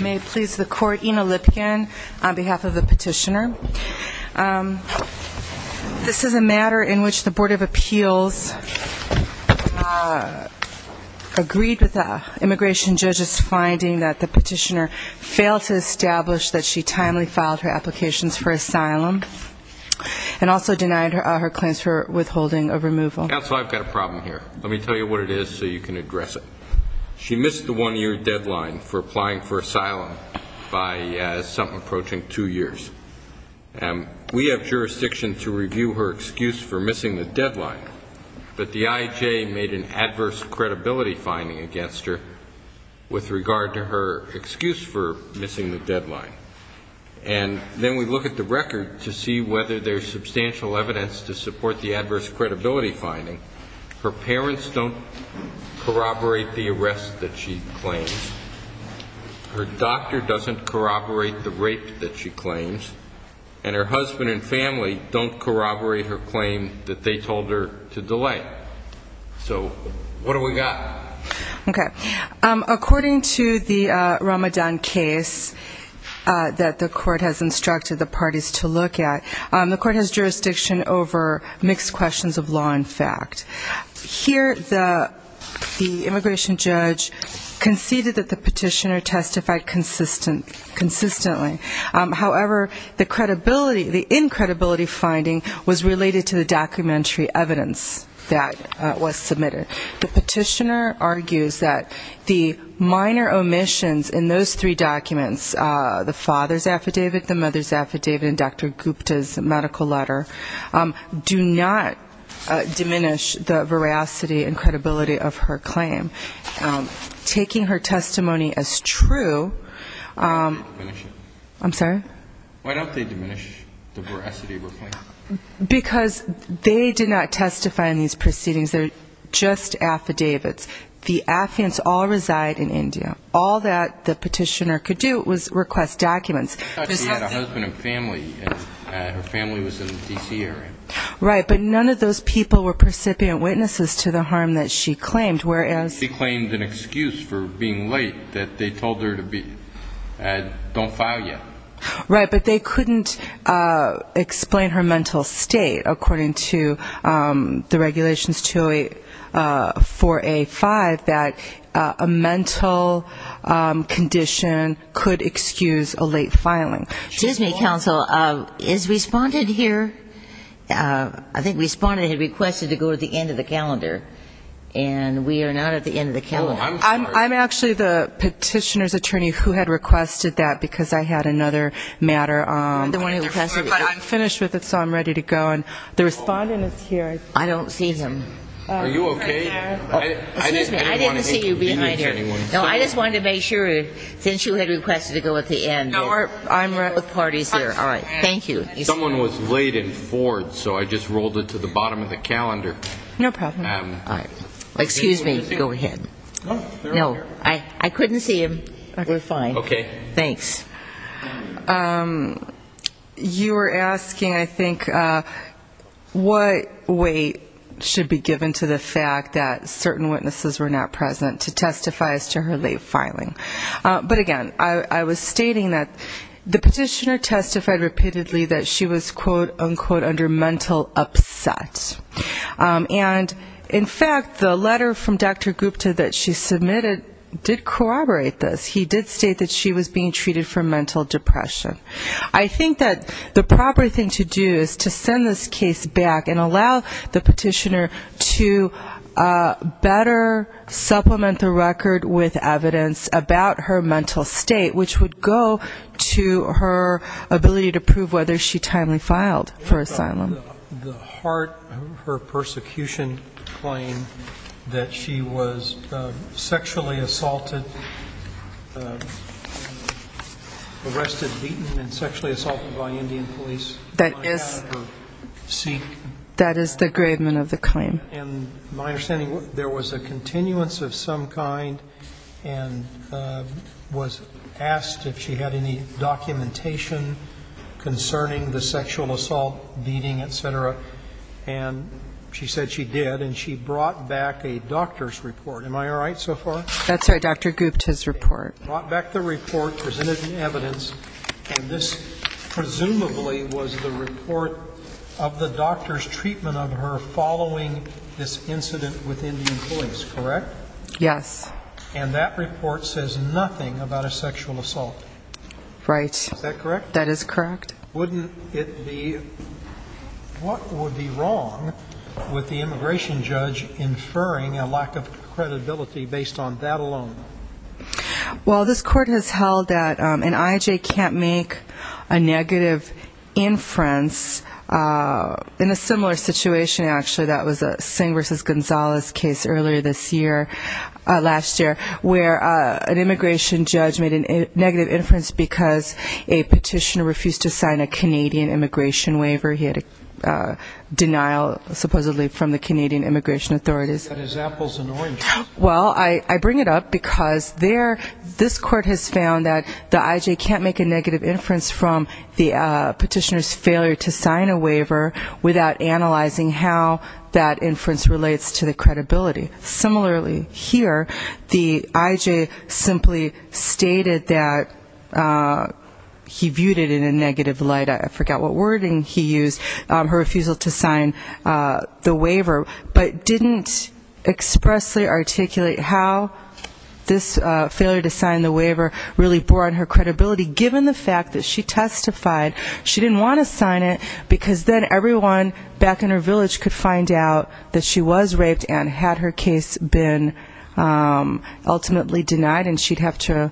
May it please the Court, Ina Lipkin on behalf of the petitioner. This is a matter in which the Board of Appeals agreed with the immigration judge's finding that the petitioner failed to establish that she timely filed her applications for asylum and also denied her claims for withholding of removal. Counsel, I've got a problem here. Let me tell you what it is so you can address it. She missed the one-year deadline for applying for asylum by something approaching two years. We have jurisdiction to review her excuse for missing the deadline, but the IJ made an adverse credibility finding against her with regard to her excuse for missing the deadline. And then we look at the record to see whether there's substantial evidence to support the adverse credibility finding. Her parents don't corroborate the arrest that she claims. Her doctor doesn't corroborate the rape that she claims. And her husband and family don't corroborate her claim that they told her to delay. So what have we got? Okay. According to the Ramadan case that the Court has instructed the parties to look at, the Court has jurisdiction over mixed questions of law and fact. Here the immigration judge conceded that the petitioner testified consistently. However, the credibility, the incredibility finding was related to the documentary evidence that was submitted. The petitioner argues that the minor omissions in those three documents, the father's affidavit, the mother's affidavit, and Dr. Gupta's medical letter, do not diminish the veracity and credibility of her claim. Taking her testimony as true, I'm sorry? Why don't they diminish the veracity of her claim? Because they did not testify in these proceedings. They're just affidavits. The affidavits all reside in India. All that the petitioner could do was request documents. I thought she had a husband and family. Her family was in the D.C. area. Right. But none of those people were precipient witnesses to the harm that she claimed, whereas she claimed an excuse for being late that they told her to be. Don't file yet. Right. But they couldn't explain her mental state according to the regulations 2A4A5 that a mental condition could excuse a late filing. Excuse me, counsel. Is Respondent here? I think Respondent had requested to go to the end of the calendar, and we are not at the end of the calendar. I'm actually the petitioner's attorney who had requested that, because I had another matter on the floor, but I'm finished with it, so I'm ready to go. And the Respondent is here. I don't see him. Are you okay? Excuse me. I didn't see you being right here. No, I just wanted to make sure, since you had requested to go at the end. I'm right with parties there. All right. Thank you. Someone was late in Ford, so I just rolled it to the bottom of the calendar. No problem. All right. Excuse me. Go ahead. No, I couldn't see him. We're fine. Okay. Thanks. You were asking, I think, what weight should be given to the fact that certain witnesses were not present to testify as to her late filing. But again, I was stating that the petitioner was, quote, unquote, under mental upset. And in fact, the letter from Dr. Gupta that she submitted did corroborate this. He did state that she was being treated for mental depression. I think that the proper thing to do is to send this case back and allow the petitioner to better supplement the record with evidence about her mental state, which would go to her ability to prove whether she timely filed for asylum. The heart of her persecution claim that she was sexually assaulted, arrested, beaten, and sexually assaulted by Indian police. That is the gravement of the claim. And my understanding, there was a continuance of some kind and was asked if she had any documentation concerning the sexual assault, beating, et cetera. And she said she did. And she brought back a doctor's report. Am I all right so far? That's right. Dr. Gupta's report. Brought back the report, presented the evidence. And this presumably was the report of the doctor's treatment of her following this incident with Indian police, correct? Yes. And that report says nothing about a sexual assault. Right. Is that correct? That is correct. Wouldn't it be, what would be wrong with the immigration judge inferring a lack of credibility based on that alone? Well this court has held that an I.I.J. can't make a negative inference. In a similar situation actually that was a Singh v. Gonzalez case earlier this year, last year, where an immigration judge made a negative inference because a petitioner refused to sign a Canadian immigration waiver. He had a denial supposedly from the Canadian immigration authorities. That is apples and oranges. Well, I bring it up because there, this court has found that the I.I.J. can't make a negative inference from the petitioner's failure to sign a waiver without analyzing how that inference relates to the credibility. Similarly here, the I.I.J. simply stated that he viewed it in a negative light, I forgot what wording he used, her refusal to sign the waiver, but didn't expressly articulate how this failure to sign the waiver really bore on her credibility given the fact that she testified she didn't want to sign it because then everyone back in her village could find out that she was raped and had her case been ultimately denied and she'd have to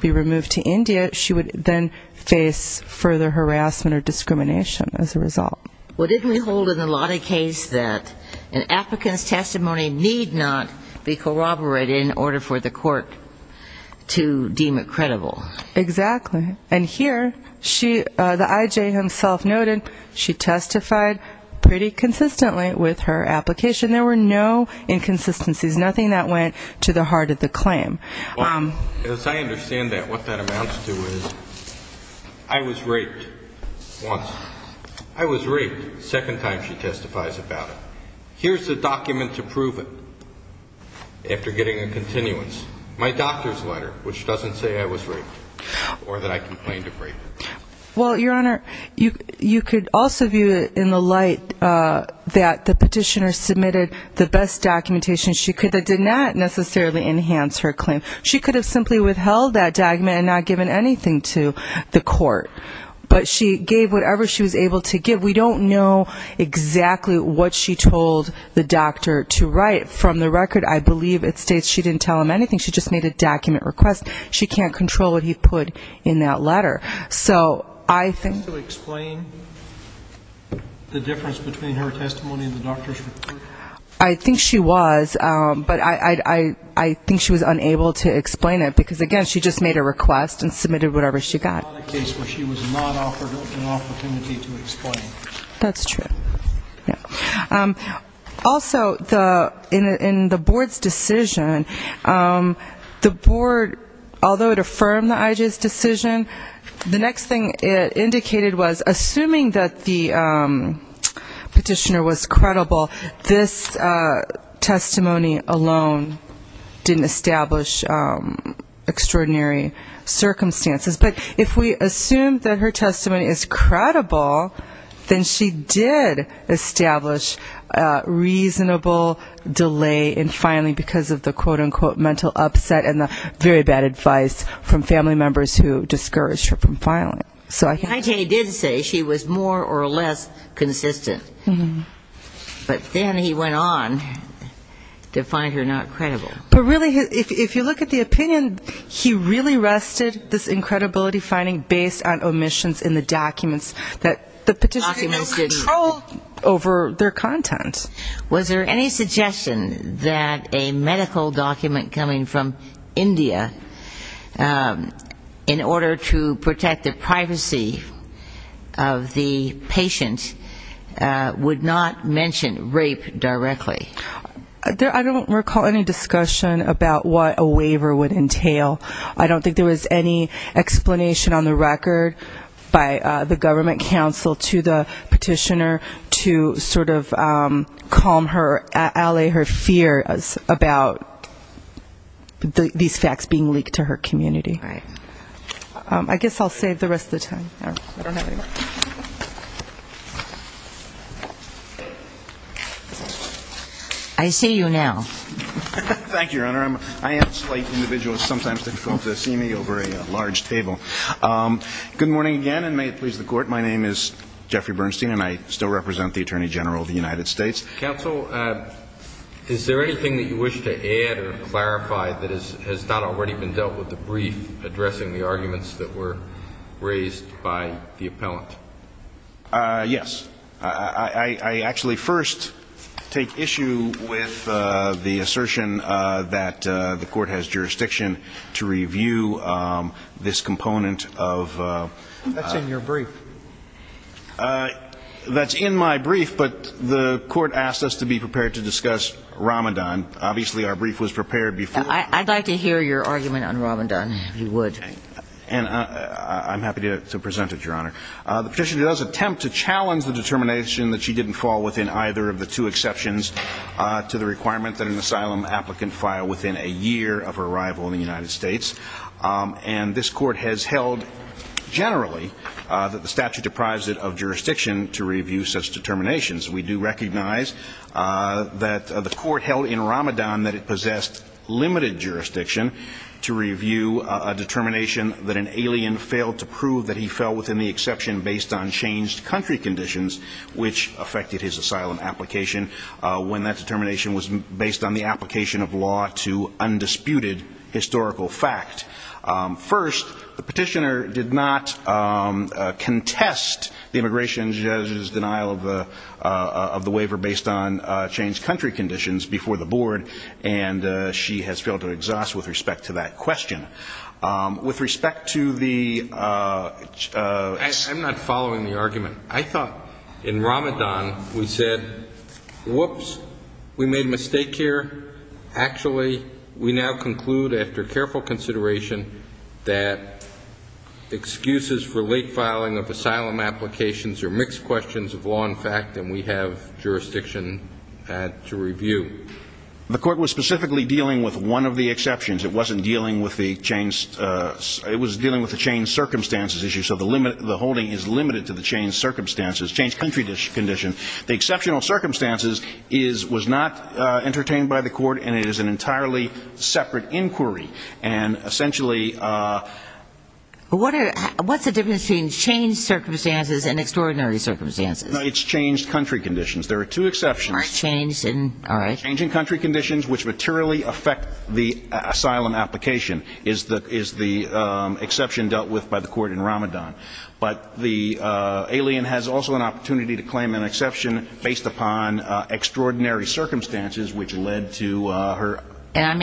be removed to India, she would then face further harassment or discrimination as a result. Well didn't we hold in the Lottie case that an applicant's testimony need not be corroborated in order for the court to deem it credible? Exactly. And here, the I.I.J. himself noted she testified pretty consistently with her application. There were no inconsistencies, nothing that went to the heart of the claim. Well, as I understand that, what that amounts to is I was raped once. I was raped the second time she testifies about it. Here's the document to prove it after getting a continuance. My doctor's letter, which doesn't say I was raped or that I complained of rape. Well, Your Honor, you could also view it in the light that the petitioner submitted the best documentation she could that did not necessarily enhance her claim. She could have simply withheld that document and not given anything to the court, but she gave whatever she was able to give. We don't know exactly what she told the doctor to write. From the document request, she can't control what he put in that letter. Can you explain the difference between her testimony and the doctor's report? I think she was, but I think she was unable to explain it because, again, she just made a request and submitted whatever she got. This is not a case where she was not offered an opportunity to explain. That's true. Also, in the board's decision, the board, although it affirmed the IJ's decision, the next thing it indicated was assuming that the petitioner was credible, this testimony alone didn't establish extraordinary circumstances. But if we assume that her testimony is credible, then she did establish reasonable delay in filing because of the quote-unquote mental upset and the very bad advice from family members who discouraged her from filing. The IJ did say she was more or less consistent, but then he went on to find her not credible. But really, if you look at the opinion, he really rested this incredibility finding based on the submissions in the documents that the petitioner had no control over their content. Was there any suggestion that a medical document coming from India in order to protect the privacy of the patient would not mention rape directly? I don't recall any discussion about what a waiver would entail. I don't think there was any I think it was a request by the government counsel to the petitioner to sort of calm her, allay her fears about these facts being leaked to her community. I guess I'll save the rest of the time. I see you now. Thank you. I'll start again and may it please the court. My name is Jeffrey Bernstein and I still represent the Attorney General of the United States. Counsel, is there anything that you wish to add or clarify that has not already been dealt with the brief addressing the arguments that were raised by the appellant? Yes. I actually first take issue with the assertion that the court has jurisdiction to review this component of... That's in your brief. That's in my brief, but the court asked us to be prepared to discuss Ramadan. Obviously our brief was prepared before... I'd like to hear your argument on Ramadan, if you would. I'm happy to present it, Your Honor. The petitioner does attempt to challenge the determination that she didn't fall within either of the two exceptions to the requirement that an asylum applicant file within a year of arrival in the United States. And this court has held generally that the statute deprives it of jurisdiction to review such determinations. We do recognize that the court held in Ramadan that it possessed limited jurisdiction to review a determination that the asylum applicant filed within a year of arrival in the United States. We do recognize that the court held in Ramadan that it possessed limited jurisdiction to review such determination that an alien failed to prove that he fell within the exception based on changed country conditions, which affected his asylum application when that determination was based on the application of law to undisputed historical fact. First, the petitioner did not contest the immigration judge's denial of the waiver based on changed country conditions before the board, and she has failed to exhaust with respect to that question. I'm not following the argument. I thought in Ramadan we said, whoops, we made a mistake here. Actually, we now conclude after careful consideration that excuses for late filing of asylum applications are mixed questions of law and fact, and we have jurisdiction to review. The court was specifically dealing with one of the exceptions. It was dealing with the changed circumstances issue, so the holding is limited to the changed circumstances, changed country conditions. The exceptional circumstances was not entertained by the court, and it is an entirely separate inquiry. And essentially... What's the difference between changed circumstances and extraordinary circumstances? No, it's changed country conditions. There are two exceptions. Change in country conditions, which materially affect the asylum application, is the exception dealt with by the court in Ramadan. But the alien has also an opportunity to claim an exception based upon extraordinary circumstances, which led to her... One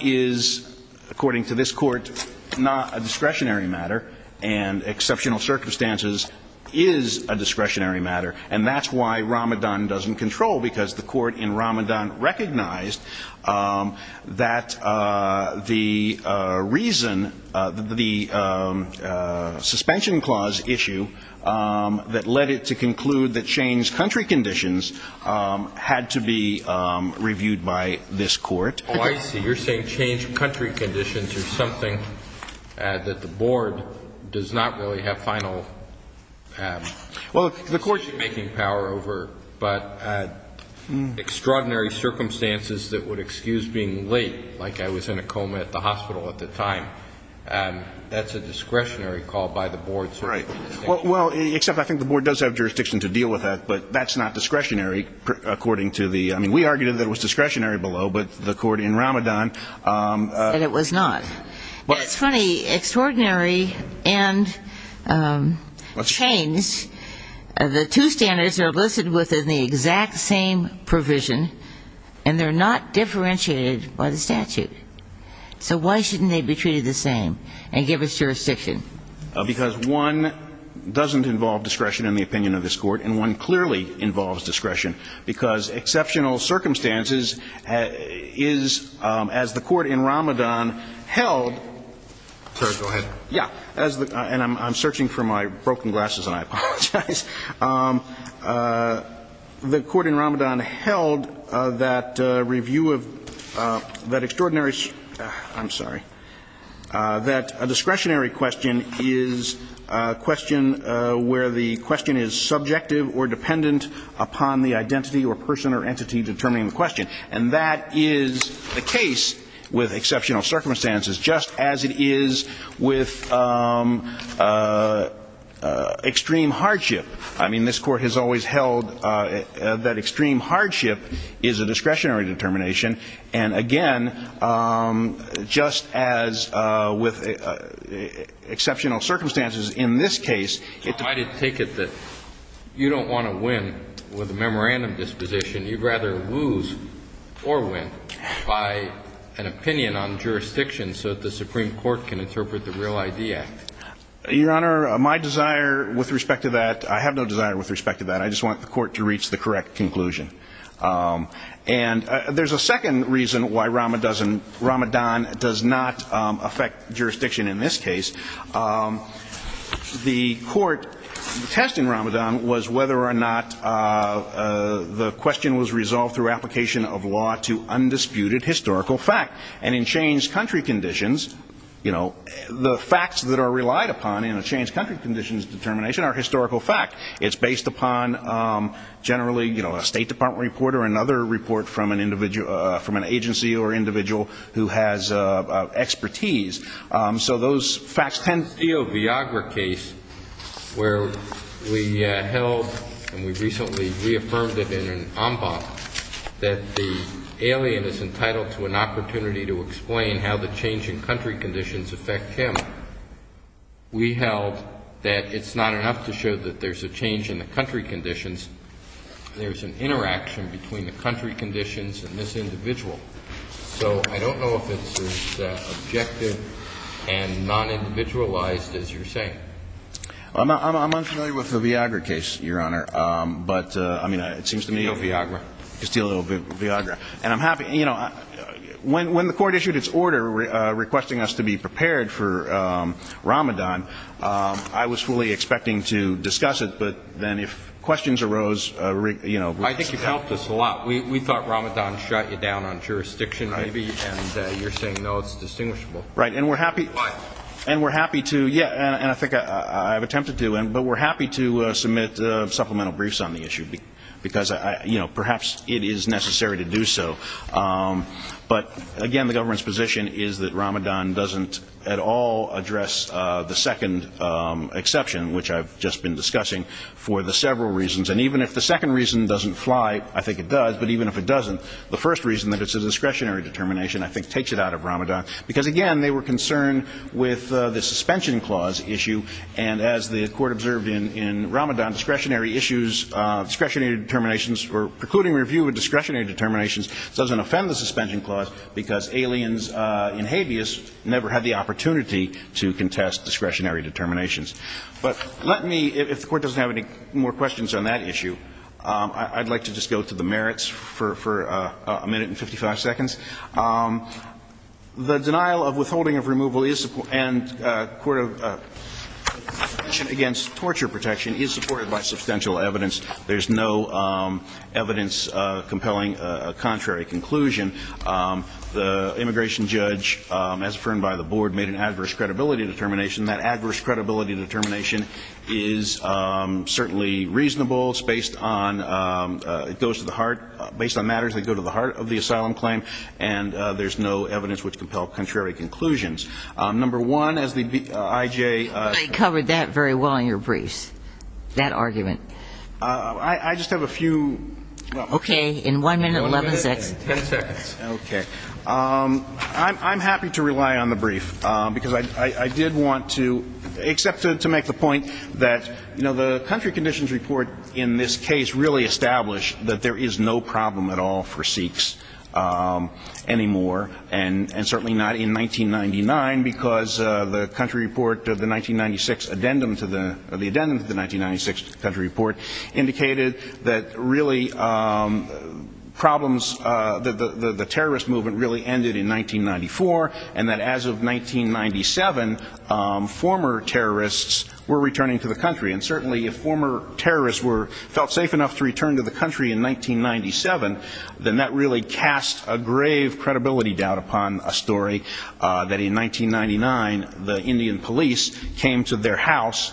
is, according to this court, not a discretionary matter, and exceptional circumstances is a discretionary matter. And that's why Ramadan doesn't control, because the court in Ramadan recognized that the reason, the suspension clause issue that led it to conclude that changed country conditions had to be reviewed by this court. Oh, I see. You're saying changed country conditions are something that the board does not really have final... Well, the court should be making power over, but extraordinary circumstances that would excuse being late, like I was in a coma at the hospital at the time, that's a discretionary call by the board. Right. Well, except I think the board does have jurisdiction to deal with that, but that's not discretionary, according to the... I mean, we argued that it was discretionary below, but the court in Ramadan... And it was not. It's funny, extraordinary and changed, the two standards are listed within the exact same provision, and they're not differentiated by the statute. So why shouldn't they be treated the same and give us jurisdiction? Because one doesn't involve discretion in the opinion of this court, and one clearly involves discretion, because exceptional circumstances is, as the court in Ramadan held... Sorry, go ahead. Yeah, and I'm searching for my broken glasses, and I apologize. But the court in Ramadan held that review of that extraordinary... I'm sorry, that a discretionary question is a question where the question is subjective or dependent upon the identity or person or entity determining the question. And that is the case with exceptional circumstances, just as it is with extreme hardship. I mean, this court has always held that extreme hardship is a discretionary determination. And again, just as with exceptional circumstances in this case... I take it that you don't want to win with a memorandum disposition. You'd rather lose or win by an opinion on jurisdiction so that the Supreme Court can interpret the Real ID Act. Your Honor, my desire with respect to that, I have no desire with respect to that. I just want the court to reach the correct conclusion. And there's a second reason why Ramadan does not affect jurisdiction in this case. The court test in Ramadan was whether or not the question was resolved through application of law to undisputed historical fact. And in changed country conditions, you know, the facts that are relied upon in a changed country conditions determination are historical fact. It's based upon generally, you know, a State Department report or another report from an agency or individual who has expertise. So those facts tend... In the Steele-Viagra case, where we held and we recently reaffirmed it in an en banc, that the alien is entitled to an opportunity to speak. We held that there is an opportunity to explain how the change in country conditions affect him. We held that it's not enough to show that there's a change in the country conditions. There's an interaction between the country conditions and this individual. So I don't know if it's as objective and non-individualized as you're saying. I'm unfamiliar with the Viagra case, Your Honor. But, I mean, it seems to me... When the court issued its order requesting us to be prepared for Ramadan, I was fully expecting to discuss it, but then if questions arose... I think you've helped us a lot. We thought Ramadan shut you down on jurisdiction, maybe, and you're saying, no, it's distinguishable. Right, and we're happy to... But, again, the government's position is that Ramadan doesn't at all address the second exception, which I've just been discussing, for the several reasons. And even if the second reason doesn't fly, I think it does, but even if it doesn't, the first reason that it's a discretionary determination I think takes it out of Ramadan. Because, again, they were concerned with the suspension clause issue, and as the court observed in Ramadan, discretionary issues, discretionary determinations, or precluding review of discretionary determinations doesn't offend the suspension clause because aliens in Habeas never had the opportunity to contest discretionary determinations. But let me, if the court doesn't have any more questions on that issue, I'd like to just go to the merits for a minute and 55 seconds. The denial of withholding of removal and torture protection is supported by substantial evidence. There's no evidence compelling a contrary conclusion. The immigration judge, as affirmed by the board, made an adverse credibility determination. That adverse credibility determination is certainly reasonable. It's based on matters that go to the heart of the asylum claim, and there's no evidence which compel contrary conclusions. Number one, as the I.J. I covered that very well in your briefs, that argument. I just have a few. Okay. In one minute, 11 seconds. Okay. I'm happy to rely on the brief, because I did want to, except to make the point that, you know, the country conditions report in this case really established that there is no problem at all for Sikhs anymore, and certainly not in 1999, because the country report, the 1996 addendum to the 1996 country report, indicated that really problems, the terrorist movement really ended in 1994, and that as of 1997, former terrorists were returning to the country. And certainly if former terrorists felt safe enough to return to the country in 1997, then that really cast a grave credibility doubt upon a story that in 1999, the Indian police came to their house,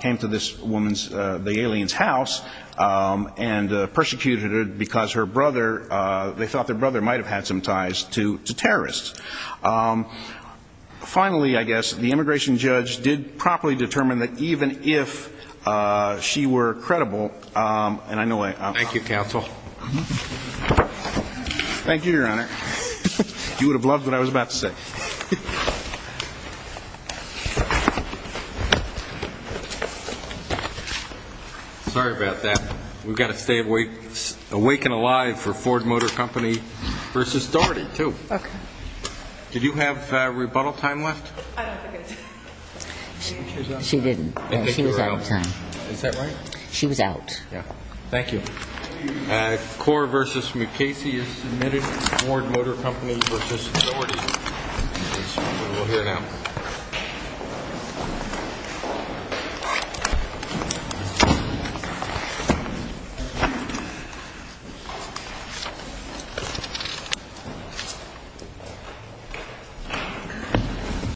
came to this woman's, the alien's house, and persecuted her because her brother, they thought their brother might have had some ties to terrorists. Finally, I guess, the immigration judge did properly determine that even if she were credible, and I know I'm not. Thank you, counsel. Thank you, Your Honor. You would have loved what I was about to say. Sorry about that. We've got to stay awake and alive for Ford Motor Company versus Doherty, too. Okay. Did you have rebuttal time left? I don't think I did. She didn't. She was out of time. Is that right? She was out. Yeah. Thank you. Core versus Mukasey is submitted. Ford Motor Company versus Doherty. We'll hear now.